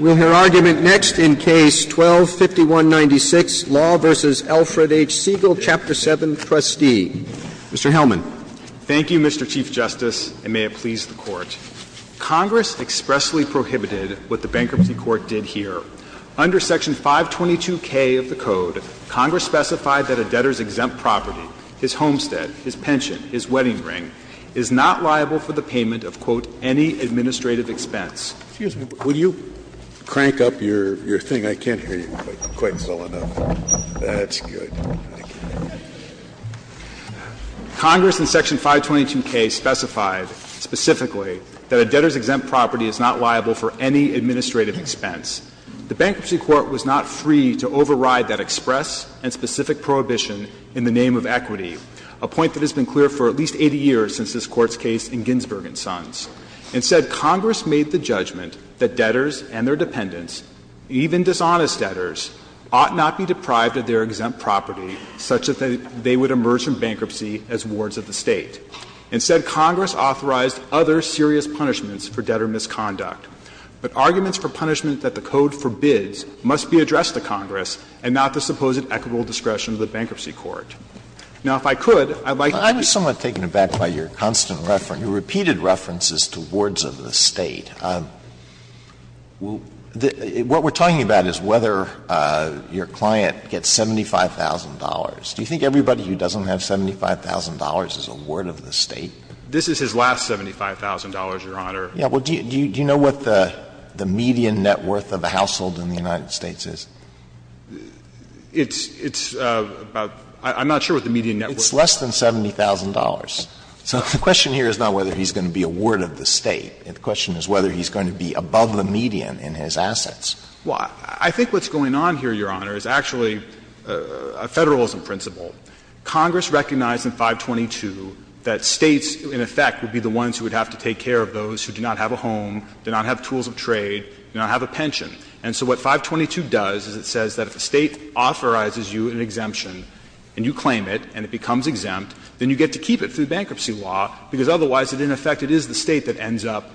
We'll hear argument next in Case 12-5196, Law v. Alfred H. Siegel, Chapter 7, Trustee. Mr. Hellman. Thank you, Mr. Chief Justice, and may it please the Court. Congress expressly prohibited what the Bankruptcy Court did here. Under Section 522K of the Code, Congress specified that a debtor's exempt property his homestead, his pension, his wedding ring, is not liable for the payment of, quote, any administrative expense. Excuse me, will you crank up your thing? I can't hear you quite well enough. That's good. Thank you. Congress in Section 522K specified specifically that a debtor's exempt property is not liable for any administrative expense. The Bankruptcy Court was not free to override that express and specific prohibition in the name of equity, a point that has been clear for at least 80 years since this Court's case in Ginsburg and Sons. Instead, Congress made the judgment that debtors and their dependents, even dishonest debtors, ought not be deprived of their exempt property, such that they would emerge from bankruptcy as wards of the State. Instead, Congress authorized other serious punishments for debtor misconduct. But arguments for punishment that the Code forbids must be addressed to Congress and not the supposed equitable discretion of the Bankruptcy Court. Now, if I could, I'd like to say to you, Mr. Hellman, I'm just somewhat taken aback by your constant reference, your repeated references to wards of the State. What we're talking about is whether your client gets $75,000. Do you think everybody who doesn't have $75,000 is a ward of the State? This is his last $75,000, Your Honor. Yeah. Well, do you know what the median net worth of a household in the United States is? It's about — I'm not sure what the median net worth is. It's less than $70,000. So the question here is not whether he's going to be a ward of the State. The question is whether he's going to be above the median in his assets. Well, I think what's going on here, Your Honor, is actually a Federalism principle. Congress recognized in 522 that States, in effect, would be the ones who would have to take care of those who do not have a home, do not have tools of trade, do not have a pension. And so what 522 does is it says that if a State authorizes you an exemption and you claim it and it becomes exempt, then you get to keep it through bankruptcy law, because otherwise, in effect, it is the State that ends up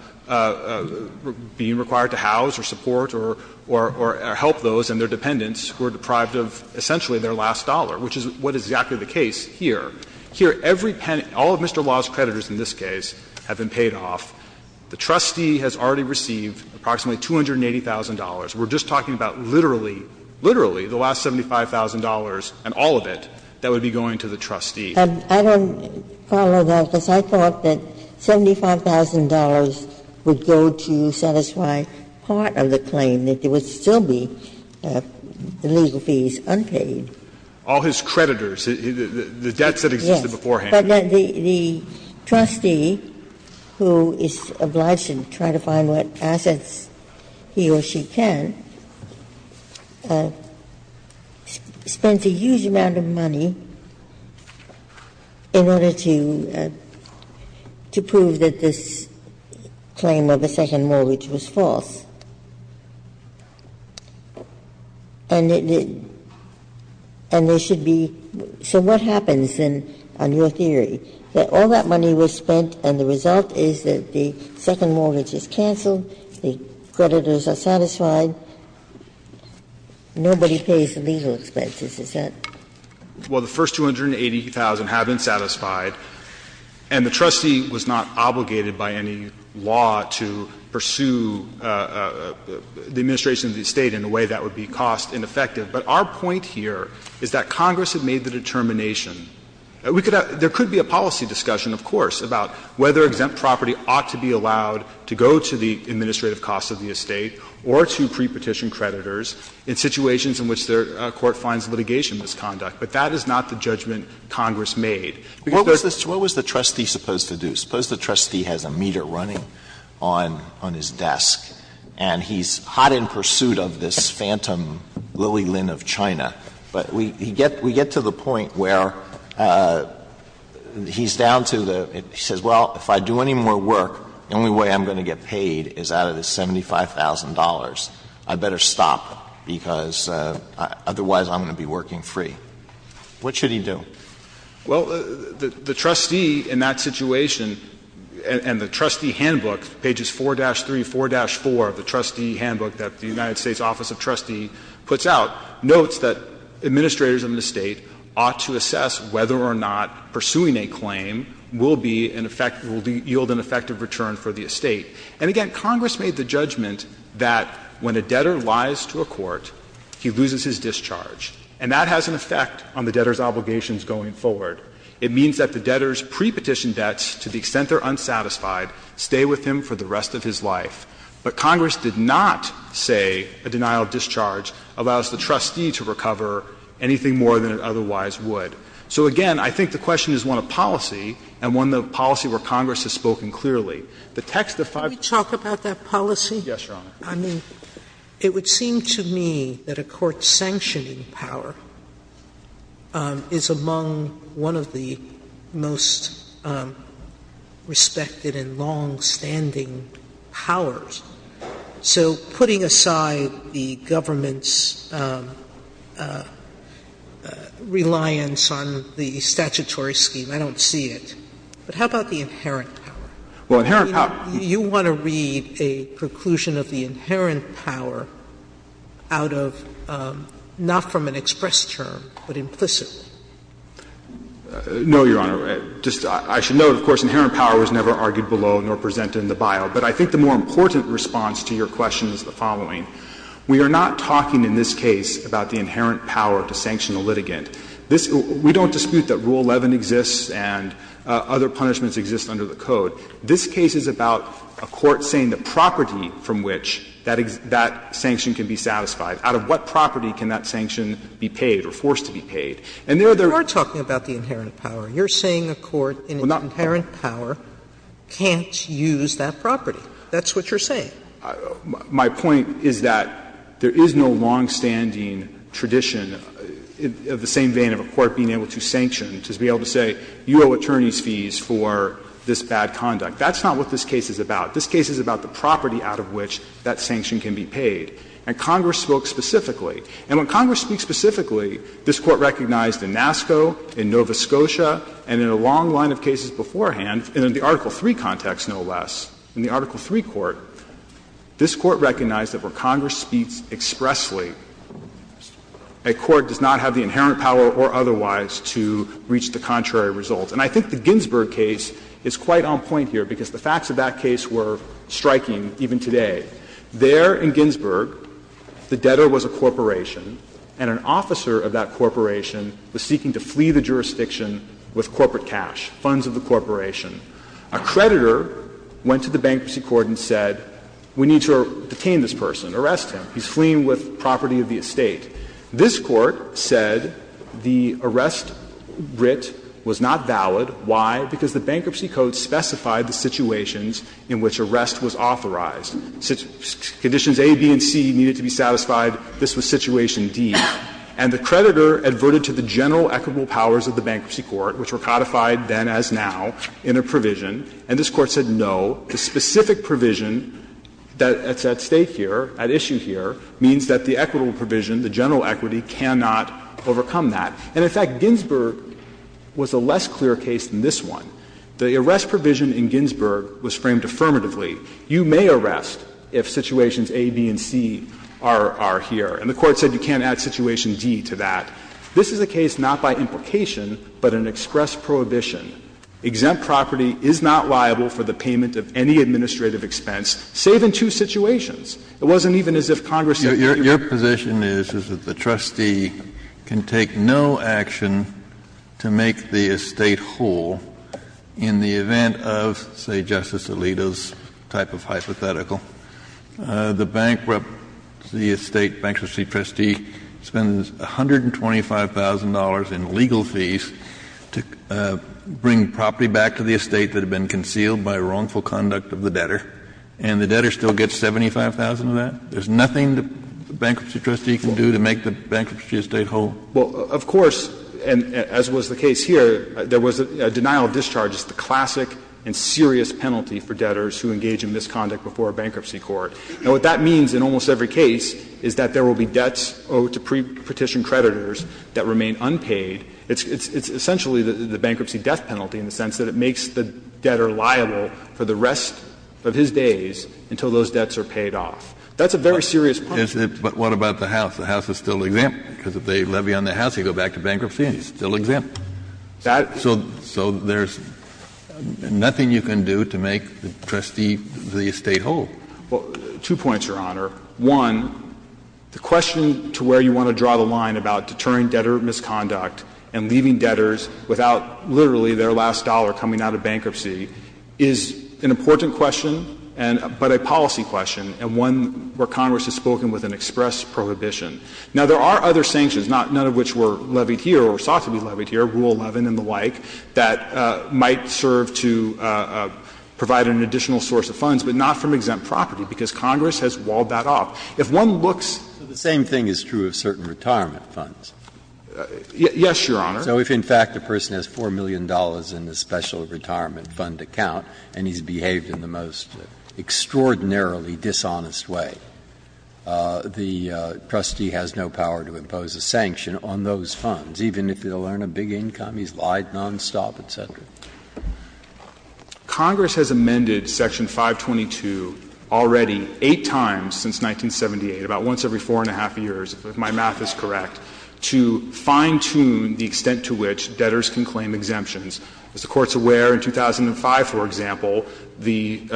being required to house or support or help those and their dependents who are deprived of essentially their last dollar, which is what is exactly the case here. Here, every — all of Mr. Law's creditors in this case have been paid off. The trustee has already received approximately $280,000. We're just talking about literally, literally the last $75,000 and all of it that would be going to the trustee. Ginsburg. I don't follow that, because I thought that $75,000 would go to satisfy part of the claim, that there would still be the legal fees unpaid. All his creditors, the debts that existed beforehand. But the trustee, who is obliged to try to find what assets he or she can, spends a huge amount of money in order to prove that this claim of a second mortgage was false. And there should be — so what happens, then, on your theory, that all that money was spent and the result is that the second mortgage is canceled, the creditors are satisfied, nobody pays the legal expenses, is that? Well, the first $280,000 have been satisfied, and the trustee was not obligated by any law to pursue the administration of the estate in a way that would be cost ineffective. But our point here is that Congress had made the determination. We could have — there could be a policy discussion, of course, about whether exempt property ought to be allowed to go to the administrative costs of the estate or to pre-petition creditors in situations in which the court finds litigation misconduct. But that is not the judgment Congress made. What was the trustee supposed to do? Suppose the trustee has a meter running on his desk, and he's hot in pursuit of this phantom lily-lin of China. But we get to the point where he's down to the — he says, well, if I do any more work, the only way I'm going to get paid is out of this $75,000. I'd better stop, because otherwise I'm going to be working free. What should he do? Well, the trustee in that situation and the trustee handbook, pages 4-3, 4-4 of the trustee handbook that the United States Office of Trustee puts out, notes that administrators in the state ought to assess whether or not pursuing a claim will be an effect — will yield an effective return for the estate. And again, Congress made the judgment that when a debtor lies to a court, he loses his discharge. And that has an effect on the debtor's obligations going forward. It means that the debtor's pre-petition debts, to the extent they're unsatisfied, stay with him for the rest of his life. But Congress did not say a denial of discharge allows the trustee to recover anything more than it otherwise would. So, again, I think the question is one of policy, and one of the policy where Congress has spoken clearly. The text of — Sotomayor, can we talk about that policy? Yes, Your Honor. I mean, it would seem to me that a court sanctioning power is among one of the most respected and longstanding powers. So putting aside the government's reliance on the statutory scheme, I don't see it. But how about the inherent power? Well, inherent power — I mean, you want to read a preclusion of the inherent power out of — not from an express term, but implicitly. No, Your Honor. Just — I should note, of course, inherent power was never argued below nor presented in the bio. But I think the more important response to your question is the following. We are not talking in this case about the inherent power to sanction a litigant. This — we don't dispute that Rule 11 exists and other punishments exist under the statute. This case is about a court saying the property from which that sanction can be satisfied. Out of what property can that sanction be paid or forced to be paid? And there are other — You are talking about the inherent power. You're saying a court in an inherent power can't use that property. That's what you're saying. My point is that there is no longstanding tradition of the same vein of a court being able to sanction, to be able to say you owe attorney's fees for this bad conduct. That's not what this case is about. This case is about the property out of which that sanction can be paid. And Congress spoke specifically. And when Congress speaks specifically, this Court recognized in NASCO, in Nova Scotia, and in a long line of cases beforehand, and in the Article III context, no less, in the Article III Court, this Court recognized that where Congress speaks expressly, a court does not have the inherent power or otherwise to reach the contrary results. And I think the Ginsburg case is quite on point here, because the facts of that case were striking even today. There in Ginsburg, the debtor was a corporation, and an officer of that corporation was seeking to flee the jurisdiction with corporate cash, funds of the corporation. A creditor went to the bankruptcy court and said, we need to detain this person, arrest him. He's fleeing with property of the estate. This Court said the arrest writ was not valid. Why? Because the bankruptcy code specified the situations in which arrest was authorized. Conditions A, B, and C needed to be satisfied. This was situation D. And the creditor adverted to the general equitable powers of the bankruptcy court, which were codified then as now in a provision, and this Court said no. The specific provision that's at stake here, at issue here, means that the equitable provision, the general equity, cannot overcome that. And in fact, Ginsburg was a less clear case than this one. The arrest provision in Ginsburg was framed affirmatively. You may arrest if situations A, B, and C are here. And the Court said you can't add situation D to that. This is a case not by implication, but an express prohibition. Exempt property is not liable for the payment of any administrative expense, save in two situations. It wasn't even as if Congress said that you could. Kennedy, your position is, is that the trustee can take no action to make the estate whole in the event of, say, Justice Alito's type of hypothetical. The bankruptcy estate, bankruptcy trustee spends $125,000 in legal fees to bring property back to the estate that had been concealed by wrongful conduct of the debtor. And the debtor still gets $75,000 of that? There's nothing the bankruptcy trustee can do to make the bankruptcy estate whole? Well, of course, and as was the case here, there was a denial of discharge. It's the classic and serious penalty for debtors who engage in misconduct before a bankruptcy court. Now, what that means in almost every case is that there will be debts owed to pre-petition creditors that remain unpaid. It's essentially the bankruptcy death penalty in the sense that it makes the debtor liable for the rest of his days until those debts are paid off. That's a very serious penalty. But what about the House? The House is still exempt, because if they levy on the House, they go back to bankruptcy and it's still exempt. So there's nothing you can do to make the trustee the estate whole. Well, two points, Your Honor. One, the question to where you want to draw the line about deterring debtor misconduct and leaving debtors without literally their last dollar coming out of bankruptcy is an important question, but a policy question, and one where Congress has spoken with an express prohibition. Now, there are other sanctions, none of which were levied here or sought to be levied here, Rule 11 and the like, that might serve to provide an additional source of funds, but not from exempt property, because Congress has walled that off. If one looks at the same thing is true of certain retirement funds. Yes, Your Honor. So if, in fact, a person has $4 million in the special retirement fund account and he's behaved in the most extraordinarily dishonest way, the trustee has no power to impose a sanction on those funds, even if he'll earn a big income, he's lied nonstop, et cetera. Congress has amended Section 522 already eight times since 1978, about once every four and a half years, if my math is correct. To fine-tune the extent to which debtors can claim exemptions. As the Court's aware, in 2005, for example, the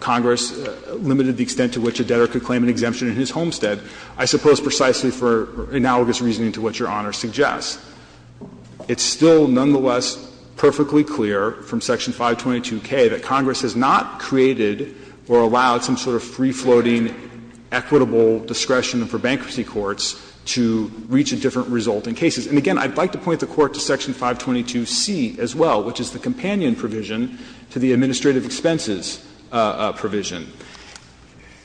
Congress limited the extent to which a debtor could claim an exemption in his homestead, I suppose precisely for analogous reasoning to what Your Honor suggests. It's still nonetheless perfectly clear from Section 522K that Congress has not created or allowed some sort of free-floating equitable discretion for bankruptcy courts to reach a different result in cases. And again, I'd like to point the Court to Section 522C as well, which is the companion provision to the administrative expenses provision.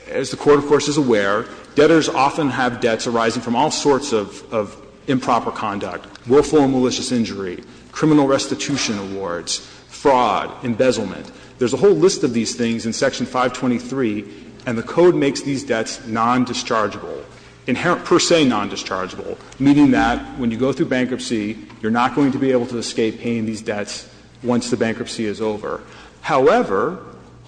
As the Court, of course, is aware, debtors often have debts arising from all sorts of improper conduct, willful and malicious injury, criminal restitution awards, fraud, embezzlement. There's a whole list of these things in Section 523, and the Code makes these debts non-dischargeable, inherent per se non-dischargeable, meaning that when you go through bankruptcy, you're not going to be able to escape paying these debts once the bankruptcy is over. However,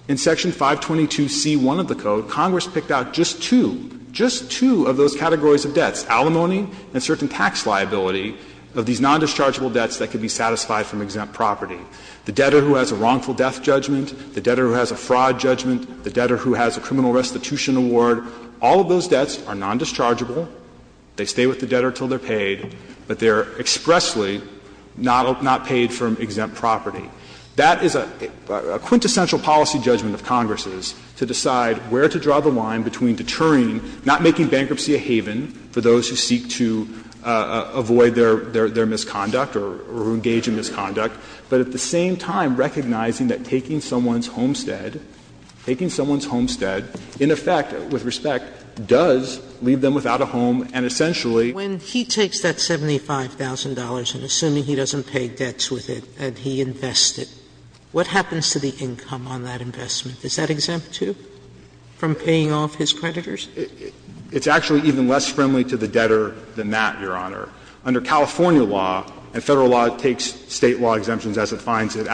in Section 522C1 of the Code, Congress picked out just two, just two of those categories of debts, alimony and certain tax liability, of these non-dischargeable debts that could be satisfied from exempt property. The debtor who has a wrongful death judgment, the debtor who has a fraud judgment, the debtor who has a criminal restitution award, all of those debts are non-dischargeable. They stay with the debtor until they're paid, but they're expressly not paid from exempt property. That is a quintessential policy judgment of Congress's, to decide where to draw the line between deterring, not making bankruptcy a haven for those who seek to avoid their misconduct or engage in misconduct, but at the same time recognizing that taking someone's homestead, taking someone's homestead, in effect, with respect, does leave them without a home and essentially. Sotomayor, when he takes that $75,000 and assuming he doesn't pay debts with it and he invests it, what happens to the income on that investment? Is that exempt, too, from paying off his creditors? It's actually even less friendly to the debtor than that, Your Honor. Under California law, and Federal law takes State law exemptions as it finds it,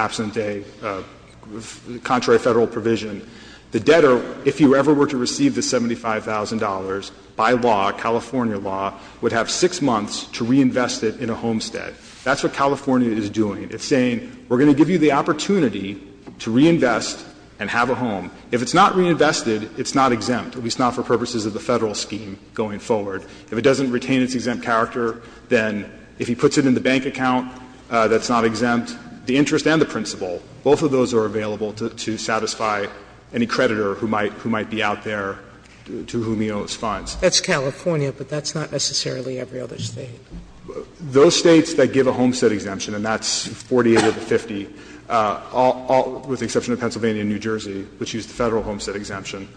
contrary to Federal provision, the debtor, if you ever were to receive the $75,000 by law, California law, would have 6 months to reinvest it in a homestead. That's what California is doing. It's saying, we're going to give you the opportunity to reinvest and have a home. If it's not reinvested, it's not exempt, at least not for purposes of the Federal scheme going forward. If it doesn't retain its exempt character, then if he puts it in the bank account that's not exempt, the interest and the principal, both of those are available to satisfy any creditor who might be out there to whom he owes funds. That's California, but that's not necessarily every other State. Those States that give a homestead exemption, and that's 48 of the 50, with the exception of Pennsylvania and New Jersey, which use the Federal homestead exemption,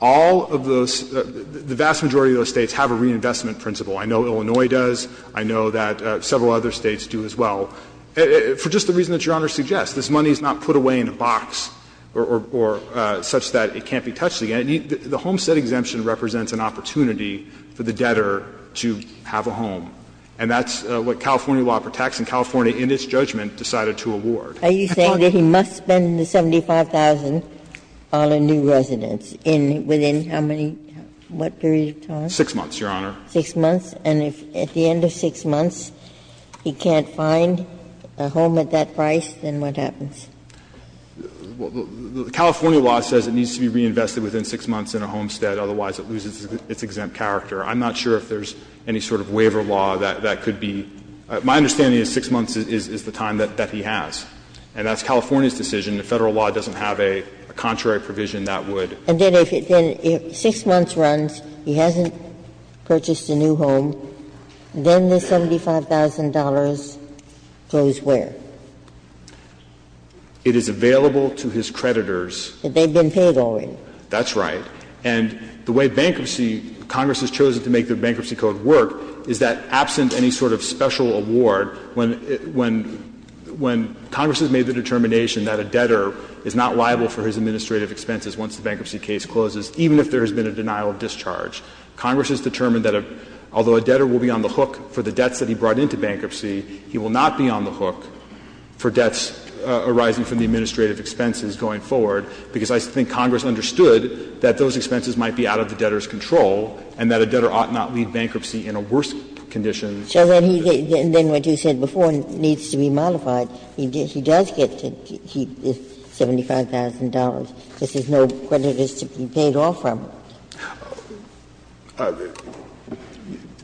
all of those, the vast majority of those States have a reinvestment principle. I know Illinois does. I know that several other States do as well. For just the reason that Your Honor suggests, this money is not put away in a box or such that it can't be touched again. The homestead exemption represents an opportunity for the debtor to have a home, and that's what California law protects and California, in its judgment, decided to award. Ginsburg. Are you saying that he must spend the $75,000 on a new residence in within how many period of time? 6 months, Your Honor. 6 months, and if at the end of 6 months he can't find a home at that price, then what happens? The California law says it needs to be reinvested within 6 months in a homestead, otherwise it loses its exempt character. I'm not sure if there's any sort of waiver law that could be. My understanding is 6 months is the time that he has, and that's California's decision. The Federal law doesn't have a contrary provision that would. And then if 6 months runs, he hasn't purchased a new home, then the $75,000 goes where? It is available to his creditors. But they've been paid already. That's right. And the way bankruptcy, Congress has chosen to make the Bankruptcy Code work is that absent any sort of special award, when Congress has made the determination that a debtor is not liable for his administrative expenses once the bankruptcy case closes, even if there has been a denial of discharge, Congress has determined that although a debtor will be on the hook for the debts that he brought into bankruptcy, he will not be on the hook for debts arising from the administrative expenses going forward, because I think Congress understood that those expenses might be out of the debtor's control and that a debtor ought not lead bankruptcy in a worse condition. Ginsburg. So then he gets, then what you said before, needs to be modified. He does get to keep this $75,000 because there's no creditors to be paid off from.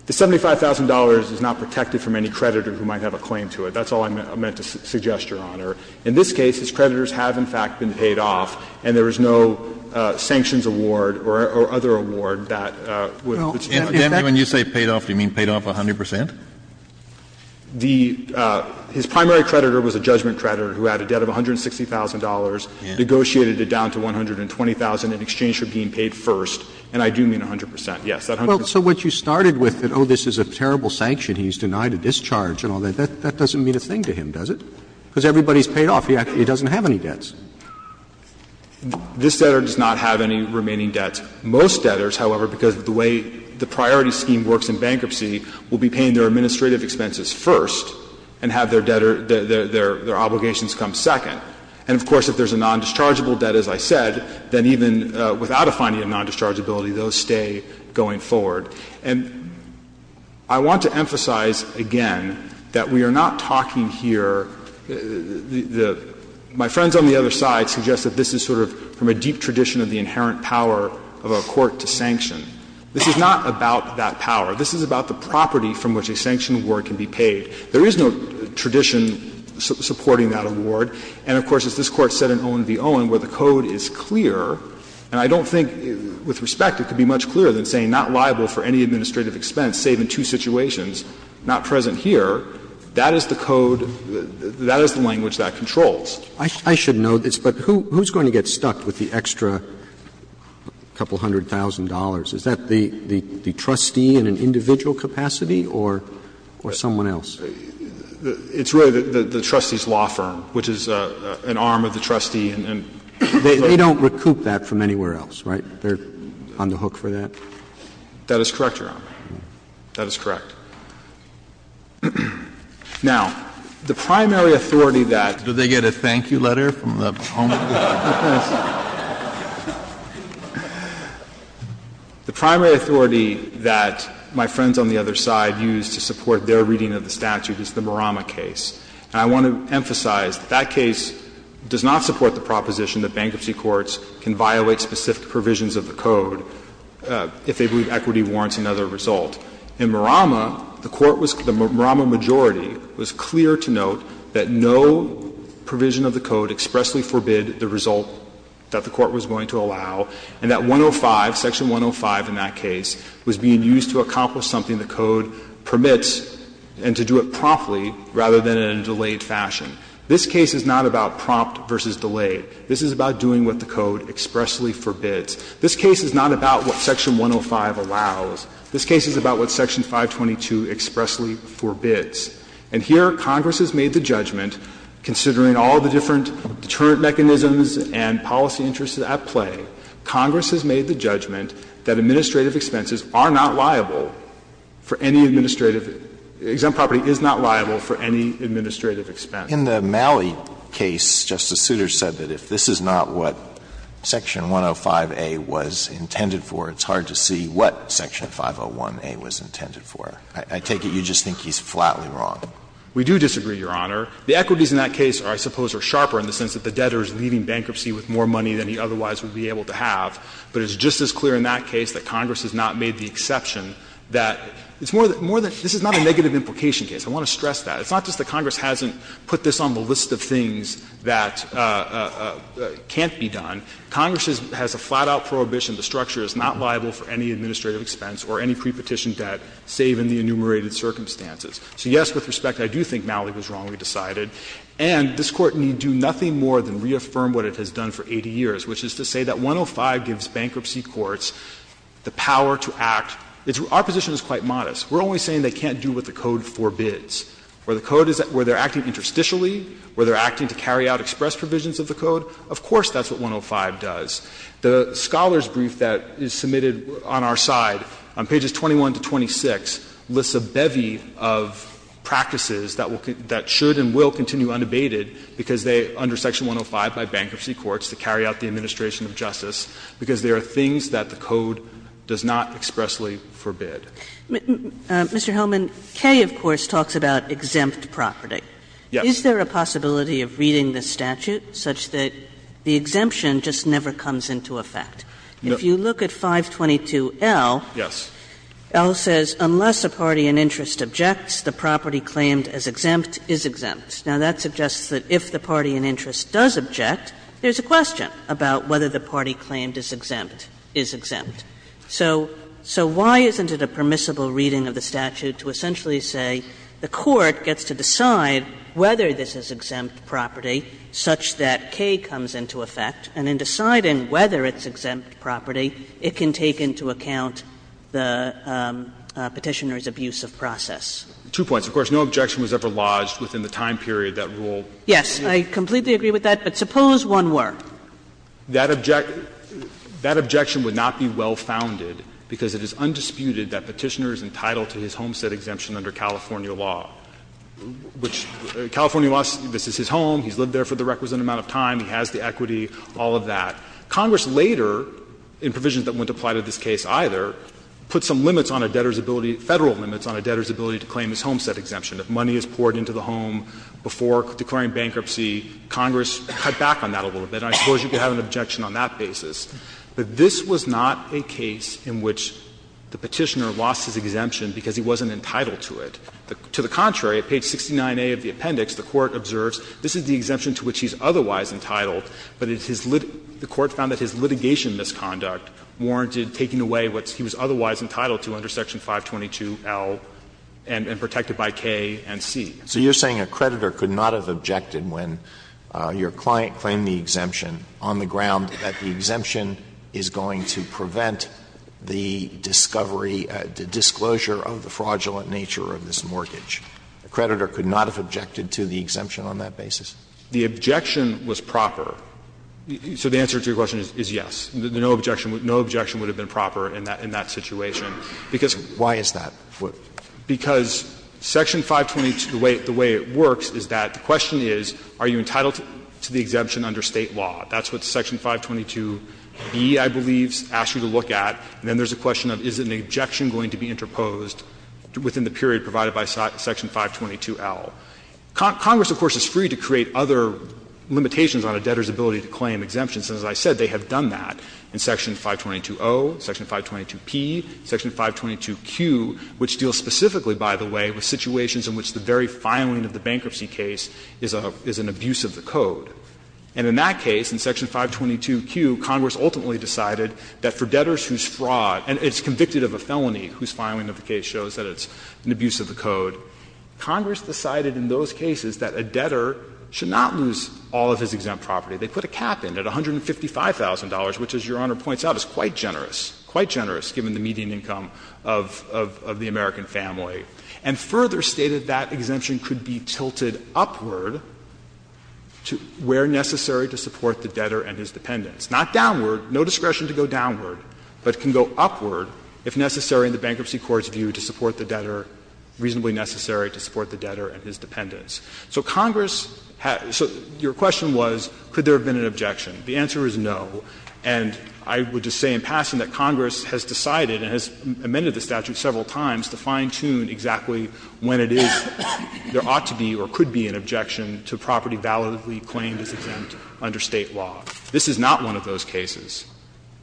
The $75,000 is not protected from any creditor who might have a claim to it. That's all I meant to suggest, Your Honor. In this case, his creditors have, in fact, been paid off, and there is no sanctions award or other award that would put him at risk. Kennedy. When you say paid off, do you mean paid off 100 percent? The his primary creditor was a judgment creditor who had a debt of $160,000, negotiated it down to $120,000 in exchange for being paid first, and I do mean 100 percent, yes. Roberts. So what you started with, that, oh, this is a terrible sanction, he's denied a discharge and all that, that doesn't mean a thing to him, does it? Because everybody's paid off. He actually doesn't have any debts. This debtor does not have any remaining debts. Most debtors, however, because of the way the priority scheme works in bankruptcy, will be paying their administrative expenses first and have their debtor, their obligations come second. And, of course, if there's a non-dischargeable debt, as I said, then even without a finding of non-dischargeability, they'll stay going forward. And I want to emphasize again that we are not talking here the – my friends on the other side suggest that this is sort of from a deep tradition of the inherent power of a court to sanction. This is not about that power. This is about the property from which a sanction award can be paid. There is no tradition supporting that award. And, of course, as this Court said in Owen v. Owen, where the code is clear, and I don't think, with respect, it could be much clearer than saying not liable for any administrative expense, save in two situations, not present here, that is the code, that is the language that controls. Roberts I should know this, but who's going to get stuck with the extra couple hundred thousand dollars? Is that the trustee in an individual capacity or someone else? Fisher It's really the trustee's law firm, which is an arm of the trustee and they don't recoup that from anywhere else, right? They're on the hook for that? That is correct, Your Honor. That is correct. Now, the primary authority that the primary authority that my friends on the other side use to support their reading of the statute is the Murama case. And I want to emphasize that that case does not support the proposition that bankruptcy courts can violate specific provisions of the code if they believe equity warrants another result. In Murama, the court was the Murama majority was clear to note that no provision of the code expressly forbid the result that the court was going to allow, and that 105, section 105 in that case, was being used to accomplish something the code permits and to do it promptly rather than in a delayed fashion. This case is not about prompt versus delayed. This is about doing what the code expressly forbids. This case is not about what section 105 allows. This case is about what section 522 expressly forbids. And here Congress has made the judgment, considering all the different deterrent mechanisms and policy interests at play, Congress has made the judgment that administrative expenses are not liable for any administrative exempt property is not liable for any administrative expense. In the Malley case, Justice Souter said that if this is not what section 105A was intended for, I take it you just think he's flatly wrong. We do disagree, Your Honor. The equities in that case are, I suppose, are sharper in the sense that the debtor is leaving bankruptcy with more money than he otherwise would be able to have, but it's just as clear in that case that Congress has not made the exception that it's more than — more than — this is not a negative implication case. I want to stress that. It's not just that Congress hasn't put this on the list of things that can't be done. Congress has a flat-out prohibition the structure is not liable for any administrative expense or any prepetition debt, save in the enumerated circumstances. So, yes, with respect, I do think Malley was wrongly decided. And this Court need do nothing more than reaffirm what it has done for 80 years, which is to say that 105 gives bankruptcy courts the power to act. It's — our position is quite modest. We're only saying they can't do what the code forbids. Where the code is — where they're acting interstitially, where they're acting to carry out express provisions of the code, of course that's what 105 does. The Scholar's brief that is submitted on our side, on pages 21 to 26, lists a bevy of practices that will — that should and will continue unabated because they — under section 105 by bankruptcy courts to carry out the administration of justice, because there are things that the code does not expressly forbid. Mr. Hellman, K, of course, talks about exempt property. Yes. Is there a possibility of reading the statute such that the exemption just never comes into effect? If you look at 522L, L says unless a party in interest objects, the property claimed as exempt is exempt. Now, that suggests that if the party in interest does object, there's a question about whether the party claimed as exempt is exempt. So why isn't it a permissible reading of the statute to essentially say the court gets to decide whether this is exempt property such that K comes into effect, and can decide in whether it's exempt property, it can take into account the Petitioner's abuse of process? Two points. Of course, no objection was ever lodged within the time period that rule was used. Yes. I completely agree with that, but suppose one were. That objection would not be well founded because it is undisputed that Petitioner is entitled to his homestead exemption under California law, which California laws, this is his home, he's lived there for the requisite amount of time, he has the rights, the equity, all of that. Congress later, in provisions that wouldn't apply to this case either, put some limits on a debtor's ability, Federal limits on a debtor's ability to claim his homestead exemption. If money is poured into the home before declaring bankruptcy, Congress cut back on that a little bit, and I suppose you could have an objection on that basis. But this was not a case in which the Petitioner lost his exemption because he wasn't entitled to it. To the contrary, at page 69A of the appendix, the Court observes this is the exemption to which he's otherwise entitled, but the Court found that his litigation misconduct warranted taking away what he was otherwise entitled to under Section 522L and protected by K and C. Alitoso So you're saying a creditor could not have objected when your client claimed the exemption on the ground that the exemption is going to prevent the discovery the disclosure of the fraudulent nature of this mortgage. A creditor could not have objected to the exemption on that basis? The objection was proper. So the answer to your question is yes. No objection would have been proper in that situation. Because Why is that? Because Section 522, the way it works is that the question is, are you entitled to the exemption under State law? That's what Section 522B, I believe, asks you to look at. And then there's a question of is an objection going to be interposed within the period provided by Section 522L. Congress, of course, is free to create other limitations on a debtor's ability to claim exemptions. And as I said, they have done that in Section 522O, Section 522P, Section 522Q, which deals specifically, by the way, with situations in which the very filing of the bankruptcy case is an abuse of the code. And in that case, in Section 522Q, Congress ultimately decided that for debtors whose fraud and it's convicted of a felony whose filing of the case shows that it's an abuse of the code. Congress decided in those cases that a debtor should not lose all of his exempt property. They put a cap in at $155,000, which, as Your Honor points out, is quite generous, quite generous given the median income of the American family, and further stated that exemption could be tilted upward to where necessary to support the debtor and his dependents. Not downward, no discretion to go downward, but can go upward if necessary in the So Congress had so your question was, could there have been an objection? The answer is no. And I would just say in passing that Congress has decided and has amended the statute several times to fine-tune exactly when it is, there ought to be or could be an objection to property validly claimed as exempt under State law. This is not one of those cases.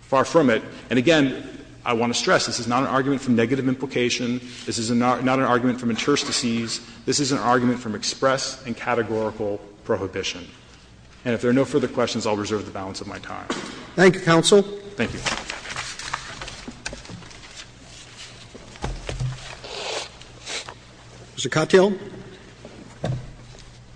Far from it. And again, I want to stress this is not an argument from negative implication. This is not an argument from interstices. This is an argument from express and categorical prohibition. And if there are no further questions, I'll reserve the balance of my time. Roberts. Thank you, counsel. Thank you. Mr. Cotthill.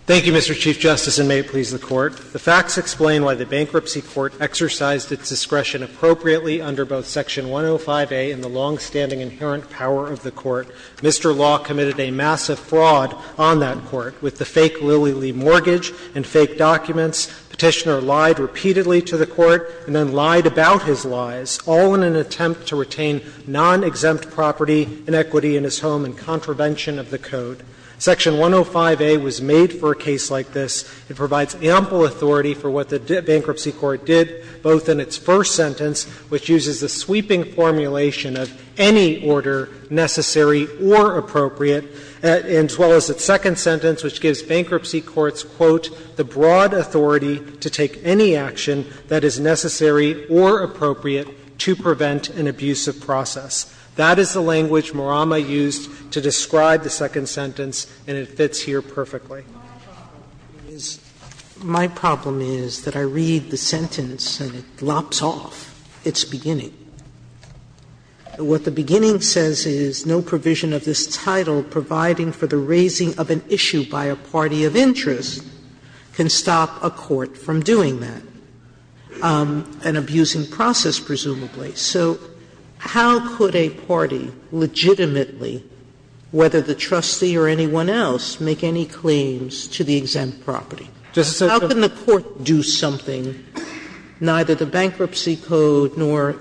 Thank you, Mr. Chief Justice, and may it please the Court. The facts explain why the Bankruptcy Court exercised its discretion appropriately under both Section 105a and the longstanding inherent power of the Court. Mr. Law committed a massive fraud on that Court with the fake Lilly Lee mortgage and fake documents. Petitioner lied repeatedly to the Court and then lied about his lies, all in an attempt to retain non-exempt property, inequity in his home and contravention of the Code. Section 105a was made for a case like this. It provides ample authority for what the Bankruptcy Court did, both in its first sentence, which uses a sweeping formulation of any order necessary or appropriate, as well as its second sentence, which gives Bankruptcy Courts, quote, the broad authority to take any action that is necessary or appropriate to prevent an abusive process. That is the language Murama used to describe the second sentence, and it fits here perfectly. Sotomayor, I'm sorry. Sotomayor, my problem is that I read the sentence and it lops off its beginning. What the beginning says is, no provision of this title, providing for the raising of an issue by a party of interest, can stop a court from doing that, an abusing process, presumably. So how could a party legitimately, whether the trustee or anyone else, make any claim to the exempt property? How can the court do something neither the Bankruptcy Code nor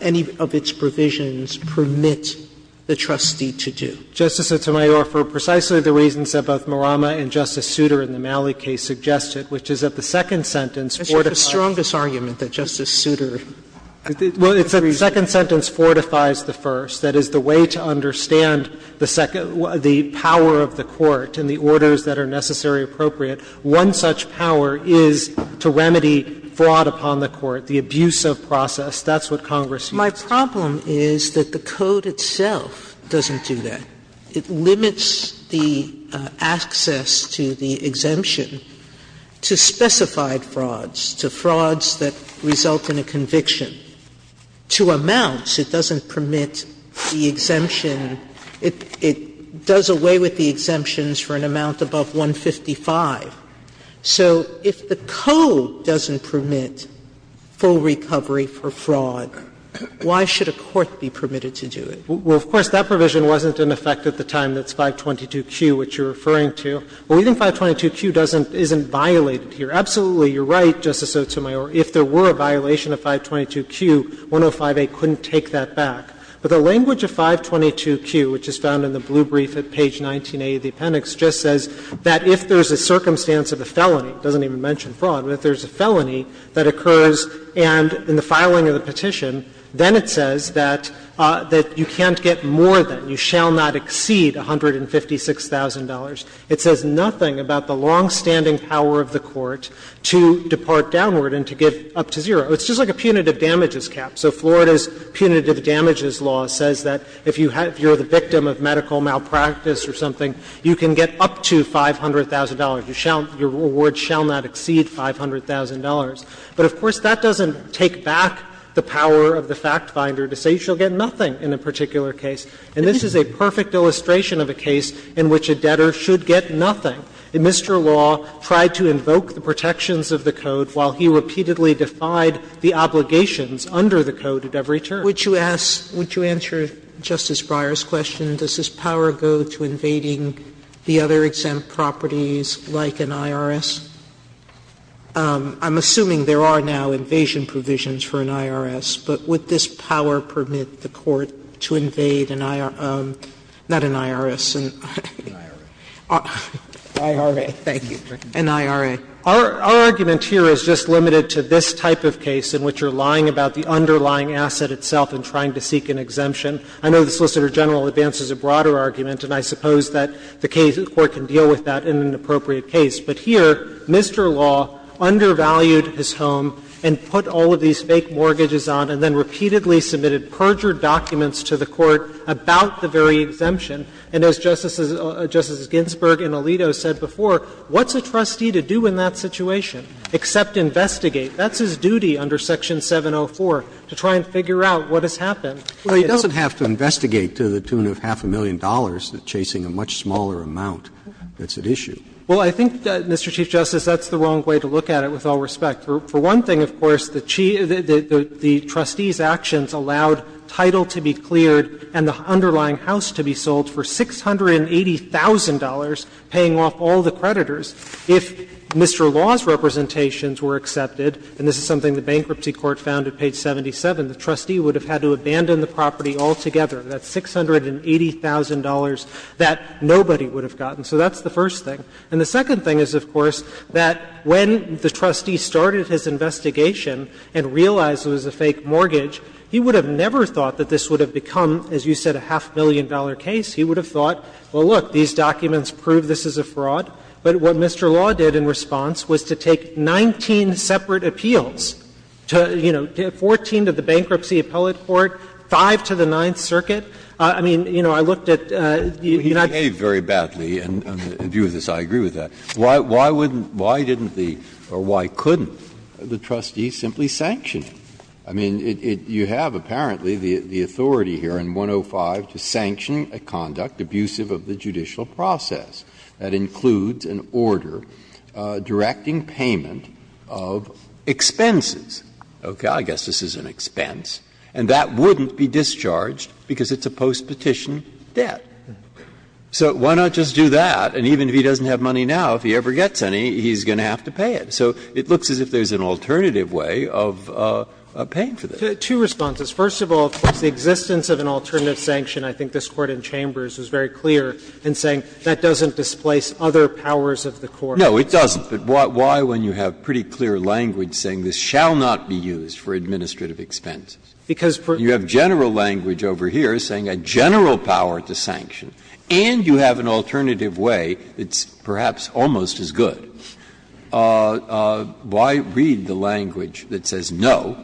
any of its provisions permit the trustee to do? Justice Sotomayor, for precisely the reasons that both Murama and Justice Souter in the Malley case suggested, which is that the second sentence fortifies. That's the strongest argument that Justice Souter agrees with. Well, it's that the second sentence fortifies the first. That is the way to understand the power of the court and the orders that are necessary and appropriate. One such power is to remedy fraud upon the court, the abusive process. That's what Congress used. My problem is that the Code itself doesn't do that. It limits the access to the exemption to specified frauds, to frauds that result in a conviction. To amounts, it doesn't permit the exemption. It does away with the exemptions for an amount above 155. So if the Code doesn't permit full recovery for fraud, why should a court be permitted to do it? Well, of course, that provision wasn't in effect at the time that's 522Q, which you're referring to. But we think 522Q doesn't isn't violated here. Absolutely, you're right, Justice Sotomayor. If there were a violation of 522Q, 105A couldn't take that back. But the language of 522Q, which is found in the blue brief at page 19A of the appendix, just says that if there's a circumstance of a felony, it doesn't even mention fraud, but if there's a felony that occurs and in the filing of the petition, then it says that you can't get more than, you shall not exceed $156,000. It says nothing about the longstanding power of the court to depart downward and to give up to zero. It's just like a punitive damages cap. So Florida's punitive damages law says that if you're the victim of medical malpractice or something, you can get up to $500,000. Your reward shall not exceed $500,000. But, of course, that doesn't take back the power of the FactFinder to say you shall get nothing in a particular case. And this is a perfect illustration of a case in which a debtor should get nothing. Mr. Law tried to invoke the protections of the Code while he repeatedly defied the obligations under the Code at every turn. Sotomayor, would you answer Justice Breyer's question? Does this power go to invading the other exempt properties like an IRS? I'm assuming there are now invasion provisions for an IRS, but would this power permit the court to invade an IR – not an IRS, an IRA. Thank you. An IRA. Our argument here is just limited to this type of case in which you're lying about the underlying asset itself and trying to seek an exemption. I know the Solicitor General advances a broader argument, and I suppose that the case of the court can deal with that in an appropriate case. But here, Mr. Law undervalued his home and put all of these fake mortgages on and then repeatedly submitted perjured documents to the court about the very exemption. And as Justices Ginsburg and Alito said before, what's a trustee to do in that situation except investigate? That's his duty under Section 704, to try and figure out what has happened. Well, he doesn't have to investigate to the tune of half a million dollars chasing a much smaller amount that's at issue. Well, I think, Mr. Chief Justice, that's the wrong way to look at it, with all respect. For one thing, of course, the trustees' actions allowed title to be cleared and the underlying house to be sold for $680,000, paying off all the creditors. If Mr. Law's representations were accepted, and this is something the bankruptcy court found at page 77, the trustee would have had to abandon the property altogether. That's $680,000 that nobody would have gotten. So that's the first thing. And the second thing is, of course, that when the trustee started his investigation and realized it was a fake mortgage, he would have never thought that this would have become, as you said, a half-million-dollar case. He would have thought, well, look, these documents prove this is a fraud. But what Mr. Law did in response was to take 19 separate appeals to, you know, 14 to the Bankruptcy Appellate Court, five to the Ninth Circuit. I mean, you know, I looked at the United States. Breyer, I believe very badly, and in view of this, I agree with that, why wouldn't the or why couldn't the trustee simply sanction it? I mean, you have apparently the authority here in 105 to sanction a conduct abusive of the judicial process. That includes an order directing payment of expenses. Okay, I guess this is an expense. And that wouldn't be discharged because it's a postpetition debt. So why not just do that, and even if he doesn't have money now, if he ever gets any, he's going to have to pay it. So it looks as if there's an alternative way of paying for this. Two responses. First of all, of course, the existence of an alternative sanction, I think this Court in Chambers is very clear in saying that doesn't displace other powers of the Court. No, it doesn't. But why when you have pretty clear language saying this shall not be used for administrative expenses? Because for you have general language over here saying a general power to sanction and you have an alternative way that's perhaps almost as good, why read the language that says no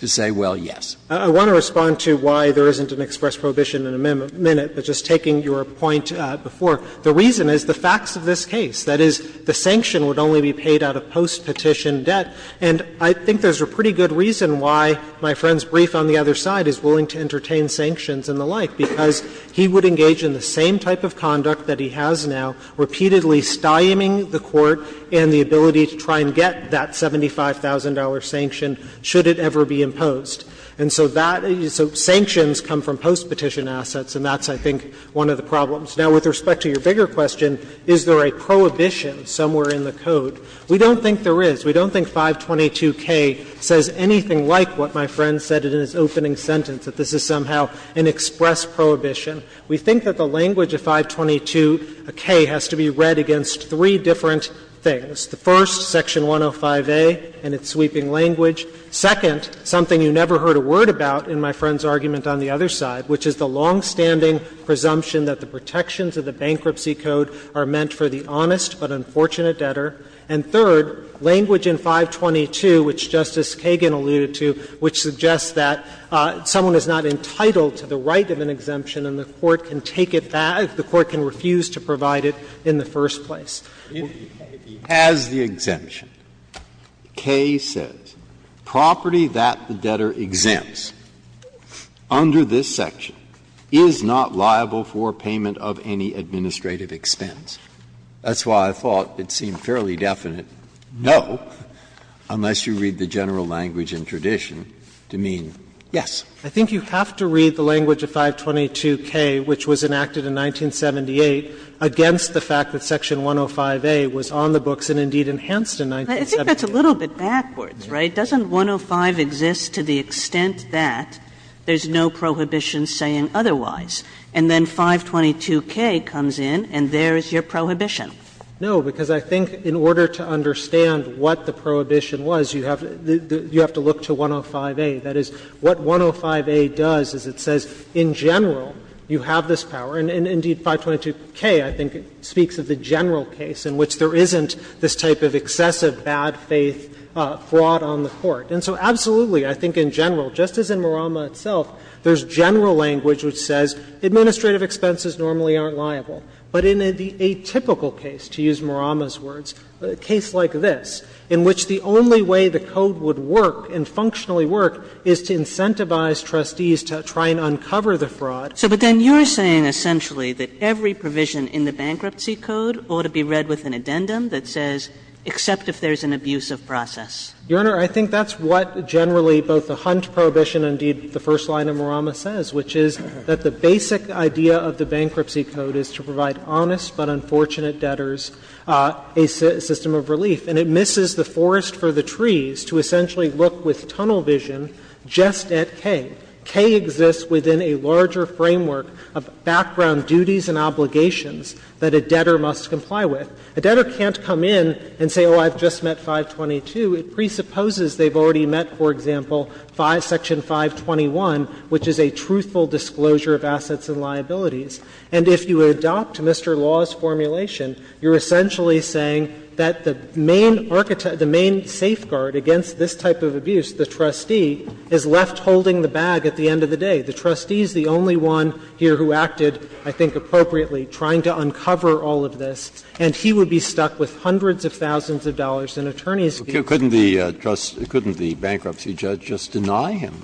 to say, well, yes? I want to respond to why there isn't an express prohibition in a minute, but just taking your point before. The reason is the facts of this case. That is, the sanction would only be paid out of postpetition debt. And I think there's a pretty good reason why my friend's brief on the other side is willing to entertain sanctions and the like, because he would engage in the same type of conduct that he has now, repeatedly stymieing the Court and the ability to try and get that $75,000 sanction should it ever be imposed. And so that — so sanctions come from postpetition assets, and that's, I think, one of the problems. Now, with respect to your bigger question, is there a prohibition somewhere in the code, we don't think there is. We don't think 522K says anything like what my friend said in his opening sentence, that this is somehow an express prohibition. We think that the language of 522K has to be read against three different things. The first, Section 105A and its sweeping language. Second, something you never heard a word about in my friend's argument on the other side, which is the longstanding presumption that the protections of the bankruptcy code are meant for the honest but unfortunate debtor. And third, language in 522, which Justice Kagan alluded to, which suggests that someone is not entitled to the right of an exemption and the Court can take it back if the Court can refuse to provide it in the first place. Breyer, if he has the exemption, K says property that the debtor exempts under this section is not liable for payment of any administrative expense. That's why I thought it seemed fairly definite, no, unless you read the general language and tradition to mean, yes. I think you have to read the language of 522K, which was enacted in 1978, against the fact that Section 105A was on the books and indeed enhanced in 1978. Kagan I think that's a little bit backwards, right? Doesn't 105 exist to the extent that there's no prohibition saying otherwise? And then 522K comes in and there's your prohibition. Katyal No, because I think in order to understand what the prohibition was, you have to look to 105A. That is, what 105A does is it says in general you have this power, and indeed 522K I think speaks of the general case in which there isn't this type of excessive bad faith fraud on the court. And so absolutely, I think in general, just as in Murama itself, there's general language which says administrative expenses normally aren't liable. But in a typical case, to use Murama's words, a case like this, in which the only way the code would work and functionally work is to incentivize trustees to try and uncover the fraud. Kagan So then you're saying essentially that every provision in the bankruptcy code ought to be read with an addendum that says, except if there's an abusive process? Katyal Your Honor, I think that's what generally both the Hunt prohibition and indeed the first line of Murama says, which is that the basic idea of the bankruptcy code is to provide honest but unfortunate debtors a system of relief. And it misses the forest for the trees to essentially look with tunnel vision just at K. K exists within a larger framework of background duties and obligations that a debtor must comply with. A debtor can't come in and say, oh, I've just met 522. It presupposes they've already met, for example, 5 § 521, which is a truthful disclosure of assets and liabilities. And if you adopt Mr. Law's formulation, you're essentially saying that the main safeguard against this type of abuse, the trustee, is left holding the bag at the end of the day. The trustee is the only one here who acted, I think appropriately, trying to uncover all of this. And he would be stuck with hundreds of thousands of dollars in attorney's fees. Breyer. Couldn't the bankruptcy judge just deny him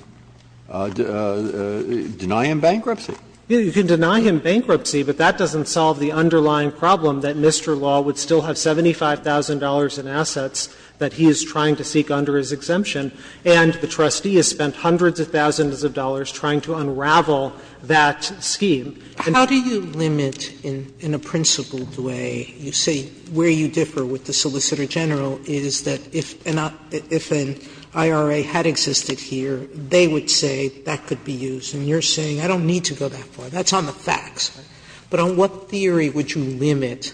bankruptcy? You can deny him bankruptcy, but that doesn't solve the underlying problem that Mr. Law would still have $75,000 in assets that he is trying to seek under his exemption, and the trustee has spent hundreds of thousands of dollars trying to unravel that scheme. Sotomayor. How do you limit, in a principled way, you say where you differ with the Solicitor General, is that if an IRA had existed here, they would say that could be used. And you're saying I don't need to go that far. That's on the facts. But on what theory would you limit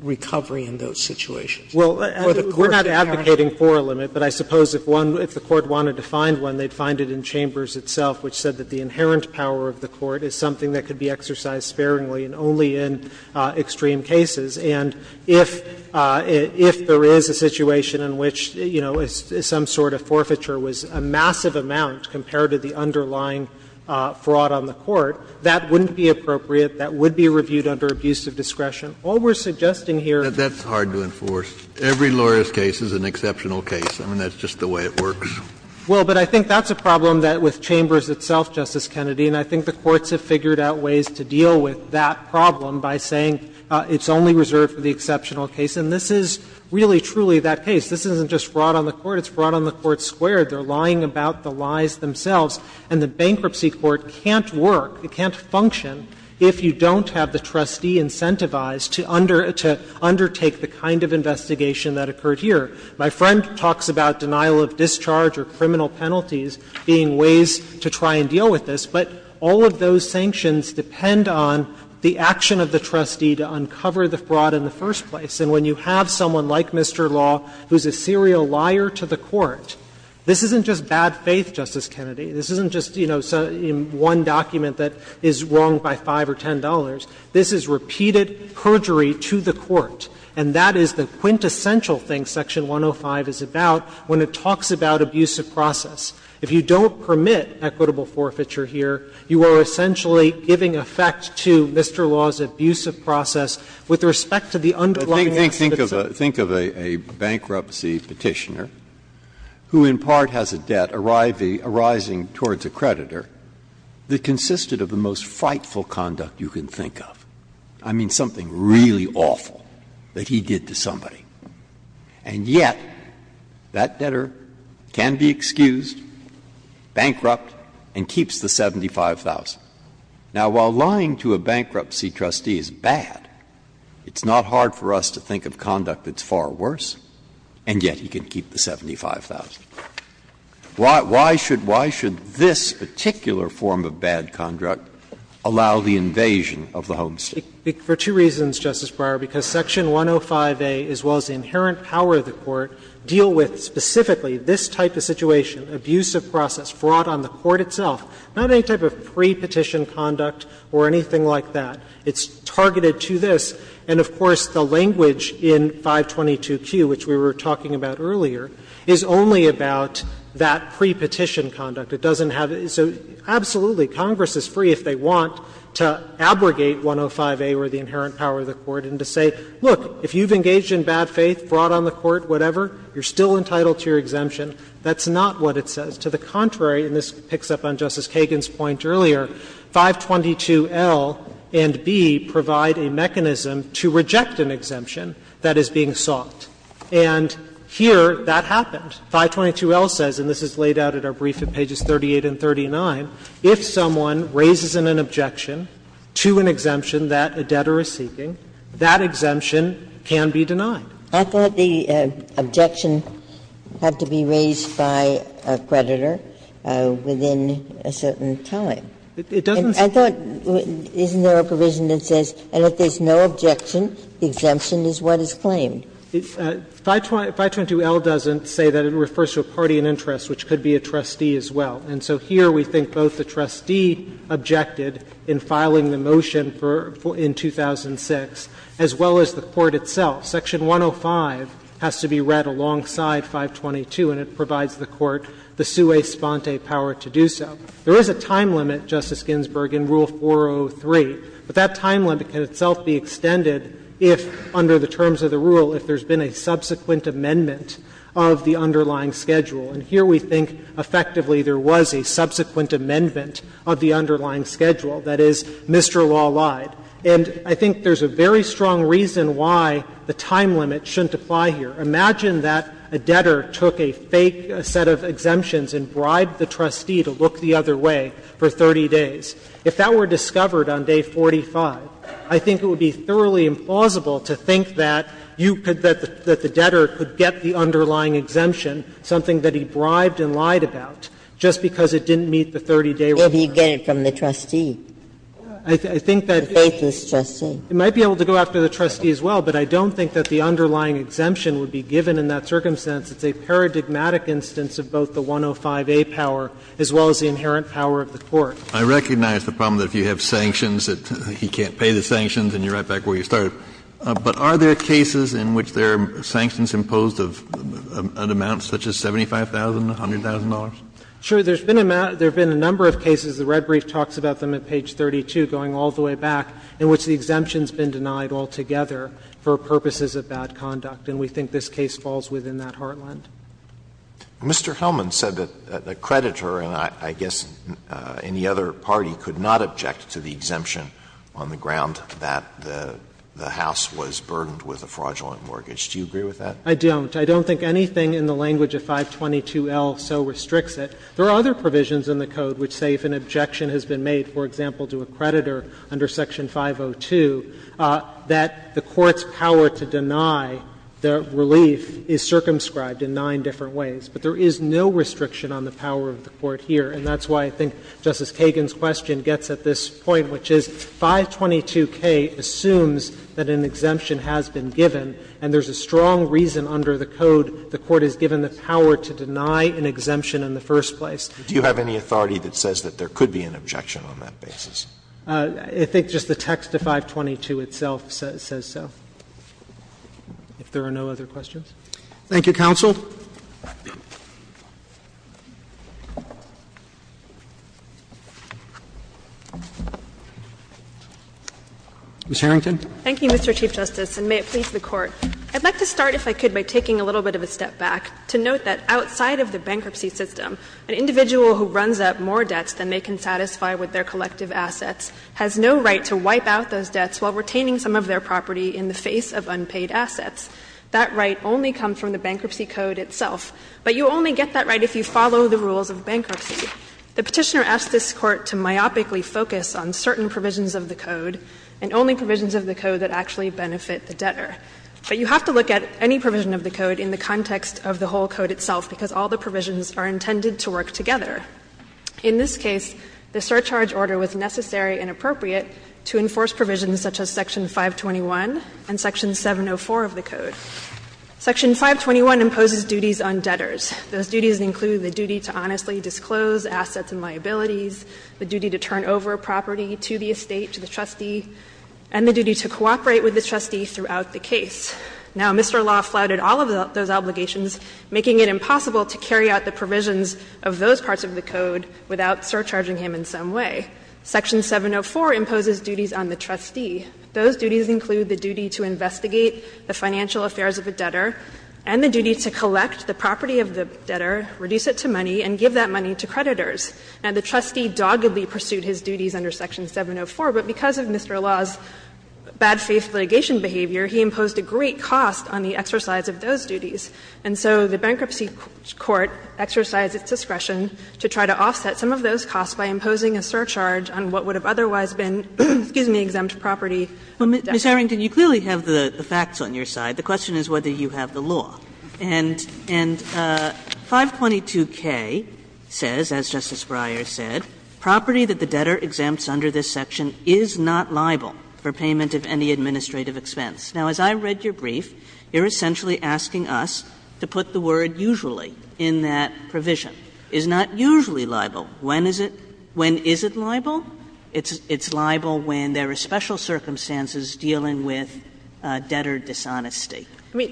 recovery in those situations? Or the court's inherent power? Well, we're not advocating for a limit, but I suppose if one, if the court wanted to find one, they'd find it in Chambers itself, which said that the inherent power of the court is something that could be exercised sparingly and only in extreme cases. And if there is a situation in which, you know, some sort of forfeiture was a massive amount compared to the underlying fraud on the court, that wouldn't be appropriate, that would be reviewed under abuse of discretion. All we're suggesting here is that's hard to enforce. Every lawyer's case is an exceptional case. I mean, that's just the way it works. Well, but I think that's a problem that with Chambers itself, Justice Kennedy, and I think the courts have figured out ways to deal with that problem by saying it's only reserved for the exceptional case. And this is really, truly that case. This isn't just fraud on the court. It's fraud on the court squared. They're lying about the lies themselves. And the bankruptcy court can't work, it can't function, if you don't have the trustee incentivized to undertake the kind of investigation that occurred here. My friend talks about denial of discharge or criminal penalties being ways to try and deal with this. But all of those sanctions depend on the action of the trustee to uncover the fraud in the first place. And when you have someone like Mr. Law, who's a serial liar to the court, this isn't just bad faith, Justice Kennedy. This isn't just, you know, one document that is wrong by $5 or $10. This is repeated perjury to the court. And that is the quintessential thing Section 105 is about when it talks about abusive process. If you don't permit equitable forfeiture here, you are essentially giving effect to Mr. Law's abusive process with respect to the underlying laws of the citizen. Breyer, Think of a bankruptcy Petitioner who in part has a debt arising towards a creditor that consisted of the most frightful conduct you can think of. I mean, something really awful that he did to somebody. And yet, that debtor can be excused, bankrupt, and keeps the $75,000. Now, while lying to a bankruptcy trustee is bad, it's not hard for us to think of conduct that's far worse, and yet he can keep the $75,000. Why should this particular form of bad conduct allow the invasion of the homestead? For two reasons, Justice Breyer, because Section 105a, as well as the inherent power of the Court, deal with specifically this type of situation, abusive process fraught on the Court itself. Not any type of pre-petition conduct or anything like that. It's targeted to this. And of course, the language in 522Q, which we were talking about earlier, is only about that pre-petition conduct. It doesn't have to be so – absolutely, Congress is free, if they want, to abrogate 105a or the inherent power of the Court and to say, look, if you've engaged in bad faith, fraught on the Court, whatever, you're still entitled to your exemption. That's not what it says. To the contrary, and this picks up on Justice Kagan's point earlier, 522L and B provide a mechanism to reject an exemption that is being sought. And here, that happened. 522L says, and this is laid out in our brief at pages 38 and 39, if someone raises an objection to an exemption that a debtor is seeking, that exemption can be denied. Ginsburg-Miller I thought the objection had to be raised by a creditor within a certain time. I thought, isn't there a provision that says, and if there's no objection, the exemption is what is claimed? Katyala, it's 522L doesn't say that. It refers to a party in interest, which could be a trustee as well. And so here we think both the trustee objected in filing the motion for – in 2006, as well as the Court itself. Section 105 has to be read alongside 522, and it provides the Court the sui sponte power to do so. There is a time limit, Justice Ginsburg, in Rule 403, but that time limit can itself be extended if, under the terms of the rule, if there's been a subsequent amendment of the underlying schedule. And here we think, effectively, there was a subsequent amendment of the underlying schedule. That is, Mr. Law lied. And I think there's a very strong reason why the time limit shouldn't apply here. Imagine that a debtor took a fake set of exemptions and bribed the trustee to look the other way for 30 days. If that were discovered on day 45, I think it would be thoroughly implausible to think that you could – that the debtor could get the underlying exemption, something that he bribed and lied about, just because it didn't meet the 30-day requirement. Ginsburg. Maybe you get it from the trustee. I think that it might be able to go after the trustee as well, but I don't think that the underlying exemption would be given in that circumstance. It's a paradigmatic instance of both the 105A power as well as the inherent power of the Court. Kennedy. I recognize the problem that if you have sanctions that he can't pay the sanctions and you're right back where you started. But are there cases in which there are sanctions imposed of an amount such as $75,000 to $100,000? Sure. There's been a number of cases. The red brief talks about them at page 32, going all the way back, in which the exemption has been denied altogether for purposes of bad conduct, and we think this case falls within that heartland. Mr. Hellman said that a creditor and I guess any other party could not object to the exemption on the ground that the House was burdened with a fraudulent mortgage. Do you agree with that? I don't. I don't think anything in the language of 522L so restricts it. There are other provisions in the Code which say if an objection has been made, for example, to a creditor under Section 502, that the Court's power to deny the relief is circumscribed in nine different ways. But there is no restriction on the power of the Court here, and that's why I think Justice Kagan's question gets at this point, which is 522K assumes that an exemption has been given, and there's a strong reason under the Code the Court has given the power to deny an exemption in the first place. Do you have any authority that says that there could be an objection on that basis? I think just the text of 522 itself says so, if there are no other questions. Thank you, counsel. Ms. Harrington. Thank you, Mr. Chief Justice, and may it please the Court. I'd like to start, if I could, by taking a little bit of a step back to note that outside of the bankruptcy system, an individual who runs up more debts than they can satisfy with their collective assets has no right to wipe out those debts while retaining some of their property in the face of unpaid assets. That right only comes from the bankruptcy code itself, but you only get that right if you follow the rules of bankruptcy. The Petitioner asks this Court to myopically focus on certain provisions of the code and only provisions of the code that actually benefit the debtor. But you have to look at any provision of the code in the context of the whole code itself, because all the provisions are intended to work together. In this case, the surcharge order was necessary and appropriate to enforce provisions such as Section 521 and Section 704 of the code. Section 521 imposes duties on debtors. Those duties include the duty to honestly disclose assets and liabilities, the duty to turn over property to the estate, to the trustee, and the duty to cooperate with the trustee throughout the case. Now, Mr. Law flouted all of those obligations, making it impossible to carry out the provisions of those parts of the code without surcharging him in some way. Section 704 imposes duties on the trustee. Those duties include the duty to investigate the financial affairs of a debtor and the duty to collect the property of the debtor, reduce it to money, and give that money to creditors. Now, the trustee doggedly pursued his duties under Section 704, but because of Mr. Law's bad faith litigation behavior, he imposed a great cost on the exercise of those duties. And so the Bankruptcy Court exercised its discretion to try to offset some of those costs, but it did not overcharge on what would have otherwise been, excuse me, exempt property debtors. Kagan, you clearly have the facts on your side. The question is whether you have the law. And 522K says, as Justice Breyer said, property that the debtor exempts under this section is not liable for payment of any administrative expense. Now, as I read your brief, you're essentially asking us to put the word usually in that provision. Is not usually liable. When is it liable? It's liable when there are special circumstances dealing with debtor dishonesty.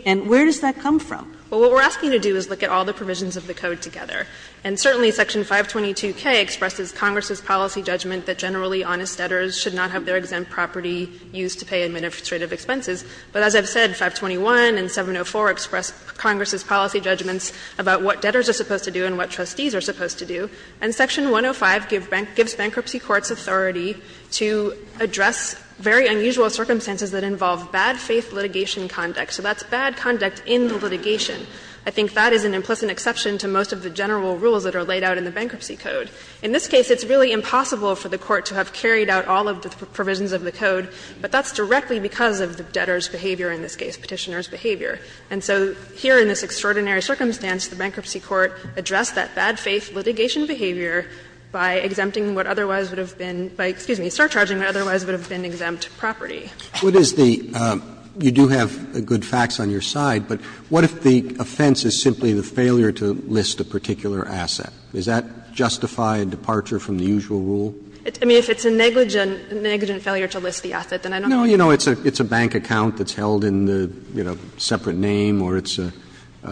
And where does that come from? Well, what we're asking you to do is look at all the provisions of the code together. And certainly Section 522K expresses Congress's policy judgment that generally honest debtors should not have their exempt property used to pay administrative expenses. But as I've said, 521 and 704 express Congress's policy judgments about what debtors are supposed to do and what trustees are supposed to do. And Section 105 gives bankruptcy courts authority to address very unusual circumstances that involve bad faith litigation conduct. So that's bad conduct in the litigation. I think that is an implicit exception to most of the general rules that are laid out in the Bankruptcy Code. In this case, it's really impossible for the court to have carried out all of the provisions of the code, but that's directly because of the debtor's behavior, in this case Petitioner's behavior. And so here in this extraordinary circumstance, the Bankruptcy Court addressed that bad faith litigation behavior by exempting what otherwise would have been by, excuse me, surcharging what otherwise would have been exempt property. Roberts. You do have good facts on your side, but what if the offense is simply the failure to list a particular asset? Does that justify a departure from the usual rule? I mean, if it's a negligent failure to list the asset, then I don't know. No, you know, it's a bank account that's held in the, you know, separate name or it's a, I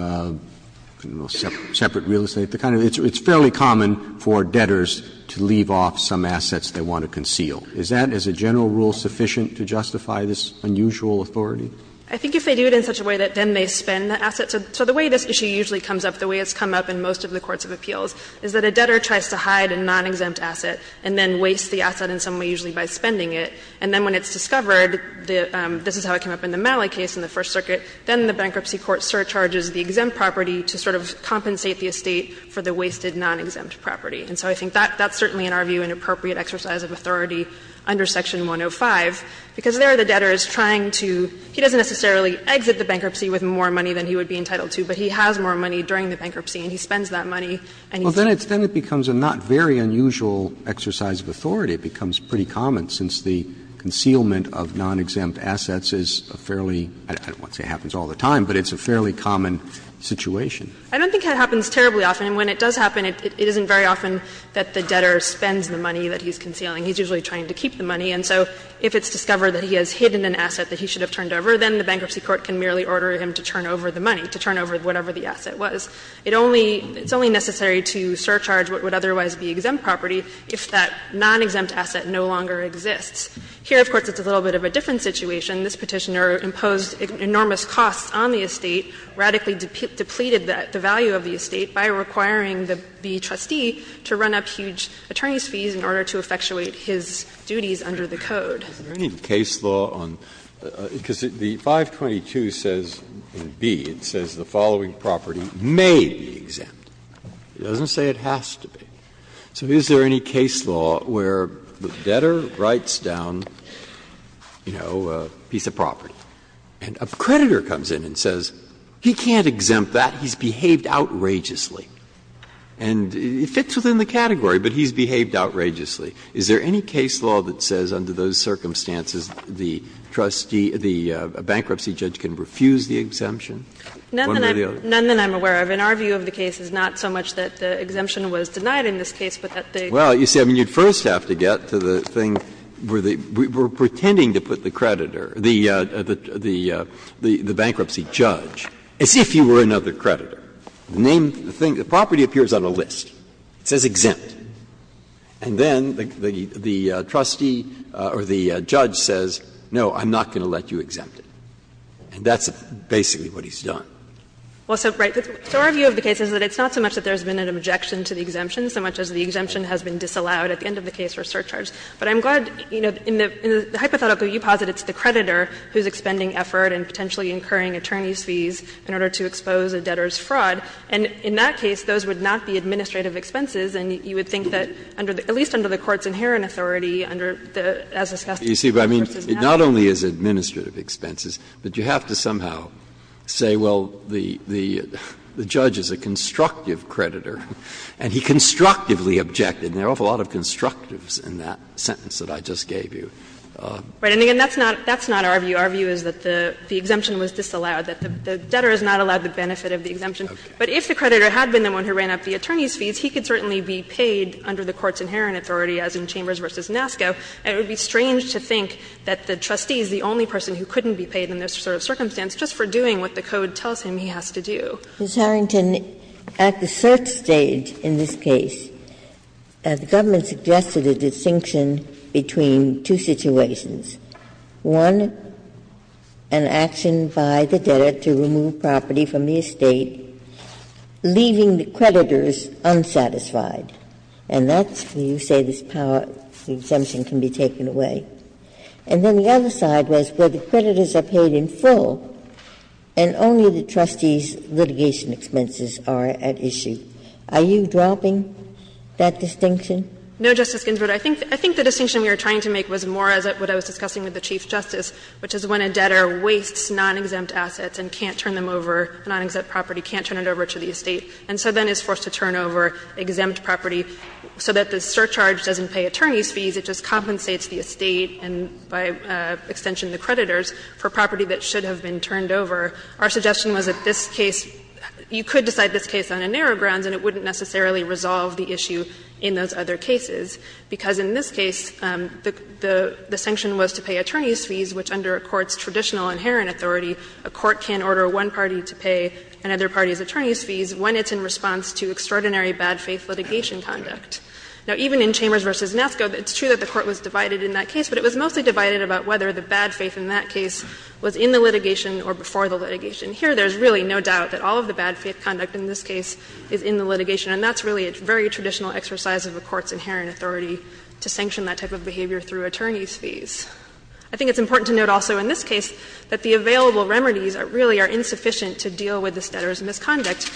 don't know, separate real estate, the kind of, it's fairly common for debtors to leave off some assets they want to conceal. Is that, as a general rule, sufficient to justify this unusual authority? I think if they do it in such a way that then they spend the asset. So the way this issue usually comes up, the way it's come up in most of the courts of appeals, is that a debtor tries to hide a non-exempt asset and then wastes the asset in some way, usually by spending it. And then when it's discovered, this is how it came up in the Malley case in the First Amendment, where the bankruptcy court surcharges the exempt property to sort of compensate the estate for the wasted non-exempt property. And so I think that's certainly, in our view, an appropriate exercise of authority under Section 105, because there the debtor is trying to he doesn't necessarily exit the bankruptcy with more money than he would be entitled to, but he has more money during the bankruptcy and he spends that money and he's. Roberts. Roberts. Well, then it becomes a not very unusual exercise of authority. It becomes pretty common since the concealment of non-exempt assets is a fairly I don't want to say it happens all the time, but it's a fairly common situation. I don't think it happens terribly often. And when it does happen, it isn't very often that the debtor spends the money that he's concealing. He's usually trying to keep the money. And so if it's discovered that he has hidden an asset that he should have turned over, then the bankruptcy court can merely order him to turn over the money, to turn over whatever the asset was. It only, it's only necessary to surcharge what would otherwise be exempt property if that non-exempt asset no longer exists. Here, of course, it's a little bit of a different situation. This Petitioner imposed enormous costs on the estate, radically depleted the value of the estate by requiring the trustee to run up huge attorney's fees in order to effectuate his duties under the code. Breyer, is there any case law on, because the 522 says, in B, it says the following property may be exempt. It doesn't say it has to be. So is there any case law where the debtor writes down, you know, a piece of property, and a creditor comes in and says, he can't exempt that, he's behaved outrageously. And it fits within the category, but he's behaved outrageously. Is there any case law that says under those circumstances the trustee, the bankruptcy judge can refuse the exemption? One or the other? None that I'm aware of. In our view of the case, it's not so much that the exemption was denied in this case, but that they. Breyer, you see, I mean, you first have to get to the thing where the we're pretending to put the creditor, the bankruptcy judge, as if he were another creditor. The name, the property appears on a list. It says exempt. And then the trustee or the judge says, no, I'm not going to let you exempt it. And that's basically what he's done. Well, so, right, so our view of the case is that it's not so much that there's been an objection to the exemption, so much as the exemption has been disallowed at the end of the case or surcharged. But I'm glad, you know, in the hypothetical you posit, it's the creditor who's expending effort and potentially incurring attorney's fees in order to expose a debtor's fraud. And in that case, those would not be administrative expenses, and you would think that under the at least under the Court's inherent authority under the, as discussed in the first instance. It not only is administrative expenses, but you have to somehow say, well, the judge is a constructive creditor, and he constructively objected, and there are an awful lot of constructives in that sentence that I just gave you. Right. And again, that's not our view. Our view is that the exemption was disallowed, that the debtor is not allowed the benefit of the exemption. But if the creditor had been the one who ran up the attorney's fees, he could certainly be paid under the Court's inherent authority, as in Chambers v. NASCO. And it would be strange to think that the trustee is the only person who couldn't be paid in this sort of circumstance just for doing what the Code tells him he has to do. Ginsburg. Ms. Harrington, at the third stage in this case, the government suggested a distinction between two situations. One, an action by the debtor to remove property from the estate, leaving the creditors unsatisfied. And that's when you say this power, the exemption can be taken away. And then the other side was where the creditors are paid in full and only the trustee's litigation expenses are at issue. Are you dropping that distinction? No, Justice Ginsburg. I think the distinction we were trying to make was more as what I was discussing with the Chief Justice, which is when a debtor wastes non-exempt assets and can't turn them over, a non-exempt property, can't turn it over to the estate, and so then he is forced to turn over exempt property so that the surcharge doesn't pay attorneys' fees. It just compensates the estate and, by extension, the creditors for property that should have been turned over. Our suggestion was that this case, you could decide this case on a narrow grounds and it wouldn't necessarily resolve the issue in those other cases. Because in this case, the sanction was to pay attorneys' fees, which under a court's traditional inherent authority, a court can order one party to pay another party's fees in response to extraordinary bad faith litigation conduct. Now, even in Chambers v. Nasco, it's true that the Court was divided in that case, but it was mostly divided about whether the bad faith in that case was in the litigation or before the litigation. Here, there's really no doubt that all of the bad faith conduct in this case is in the litigation, and that's really a very traditional exercise of a court's inherent authority to sanction that type of behavior through attorneys' fees. I think it's important to note also in this case that the available remedies really are insufficient to deal with this debtor's misconduct.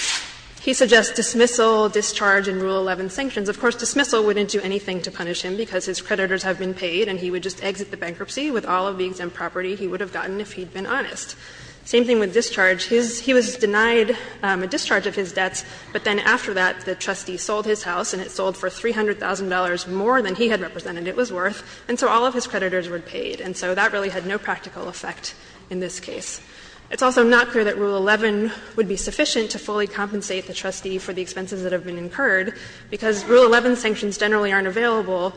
He suggests dismissal, discharge, and Rule 11 sanctions. Of course, dismissal wouldn't do anything to punish him because his creditors have been paid and he would just exit the bankruptcy with all of the exempt property he would have gotten if he had been honest. Same thing with discharge. His he was denied a discharge of his debts, but then after that, the trustee sold his house and it sold for $300,000 more than he had represented it was worth, and so all of his creditors were paid. And so that really had no practical effect in this case. It's also not clear that Rule 11 would be sufficient to fully compensate the trustee for the expenses that have been incurred, because Rule 11 sanctions generally aren't available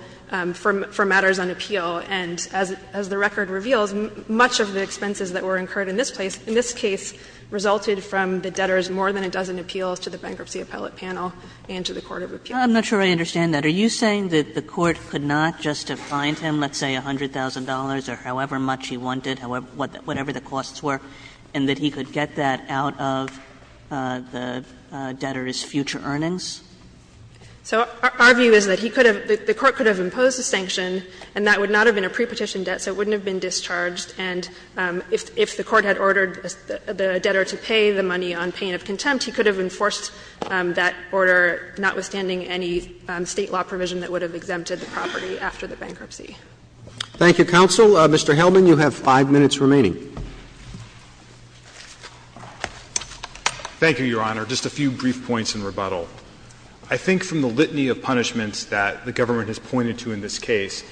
for matters on appeal. And as the record reveals, much of the expenses that were incurred in this case, in this case, resulted from the debtor's more than a dozen appeals to the Bankruptcy Appellate Panel and to the court of appeals. Kagan I'm not sure I understand that. Are you saying that the Court could not just have fined him, let's say, $100,000 or however much he wanted, whatever the costs were, and that he could get that out of the debtor's future earnings? So our view is that he could have the Court could have imposed a sanction, and that would not have been a pre-petition debt, so it wouldn't have been discharged. And if the Court had ordered the debtor to pay the money on pain of contempt, he could have enforced that order, notwithstanding any State law provision that would have exempted the property after the bankruptcy. Thank you, counsel. Mr. Helman, you have 5 minutes remaining. Thank you, Your Honor. Just a few brief points in rebuttal. I think from the litany of punishments that the government has pointed to in this case,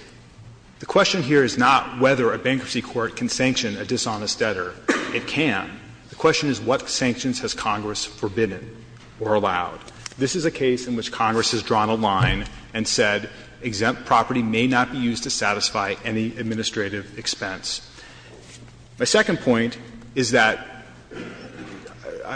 the question here is not whether a bankruptcy court can sanction a dishonest debtor. It can. The question is what sanctions has Congress forbidden or allowed? This is a case in which Congress has drawn a line and said exempt property may not be used to satisfy any administrative expense. My second point is that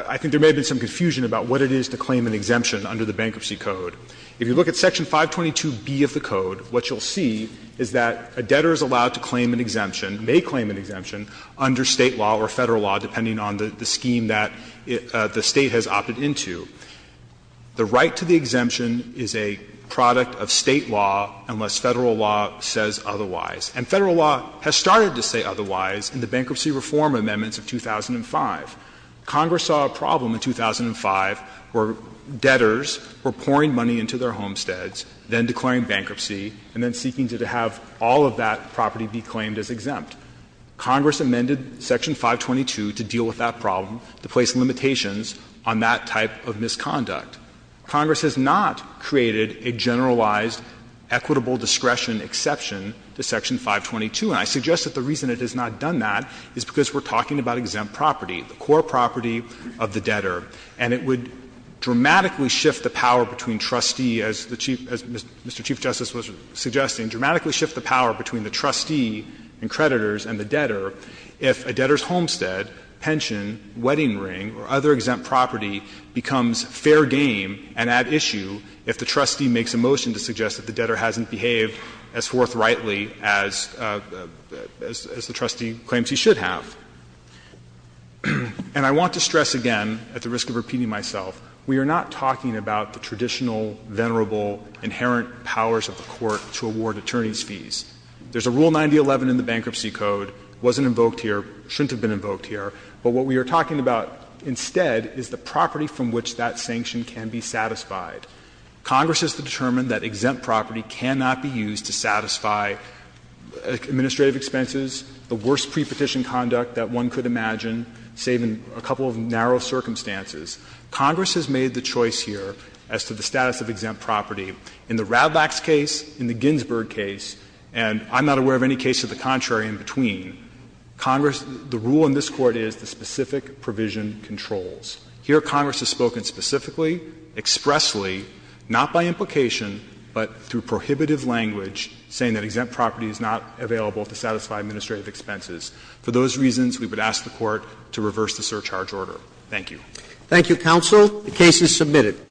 I think there may have been some confusion about what it is to claim an exemption under the Bankruptcy Code. If you look at Section 522B of the Code, what you'll see is that a debtor is allowed to claim an exemption, may claim an exemption, under State law or Federal law, depending on the scheme that the State has opted into. The right to the exemption is a product of State law unless Federal law says otherwise. And Federal law has started to say otherwise in the Bankruptcy Reform Amendments of 2005. Congress saw a problem in 2005 where debtors were pouring money into their homesteads, then declaring bankruptcy, and then seeking to have all of that property be claimed as exempt. Congress amended Section 522 to deal with that problem, to place limitations on that type of misconduct. Congress has not created a generalized equitable discretion exception to Section 522. And I suggest that the reason it has not done that is because we're talking about exempt property, the core property of the debtor. And it would dramatically shift the power between trustee, as the Chief — as Mr. Chief Justice was suggesting, dramatically shift the power between the trustee and creditors and the debtor if a debtor's homestead, pension, wedding ring, or other exempt property becomes fair game and at issue if the trustee makes a motion to suggest that the debtor hasn't behaved as forthrightly as the trustee claims he should have. And I want to stress again, at the risk of repeating myself, we are not talking about the traditional, venerable, inherent powers of the Court to award attorneys' fees. There's a Rule 9011 in the Bankruptcy Code, wasn't invoked here, shouldn't have been invoked here. But what we are talking about instead is the property from which that sanction can be satisfied. Congress has determined that exempt property cannot be used to satisfy administrative expenses, the worst pre-petition conduct that one could imagine, save in a couple of narrow circumstances. Congress has made the choice here as to the status of exempt property. In the Ravlax case, in the Ginsburg case, and I'm not aware of any case of the contrary in between, Congress — the rule in this Court is the specific provision controls. Here, Congress has spoken specifically, expressly, not by implication, but through prohibitive language, saying that exempt property is not available to satisfy administrative expenses. For those reasons, we would ask the Court to reverse the surcharge order. Thank you. Roberts. Thank you, counsel. The case is submitted.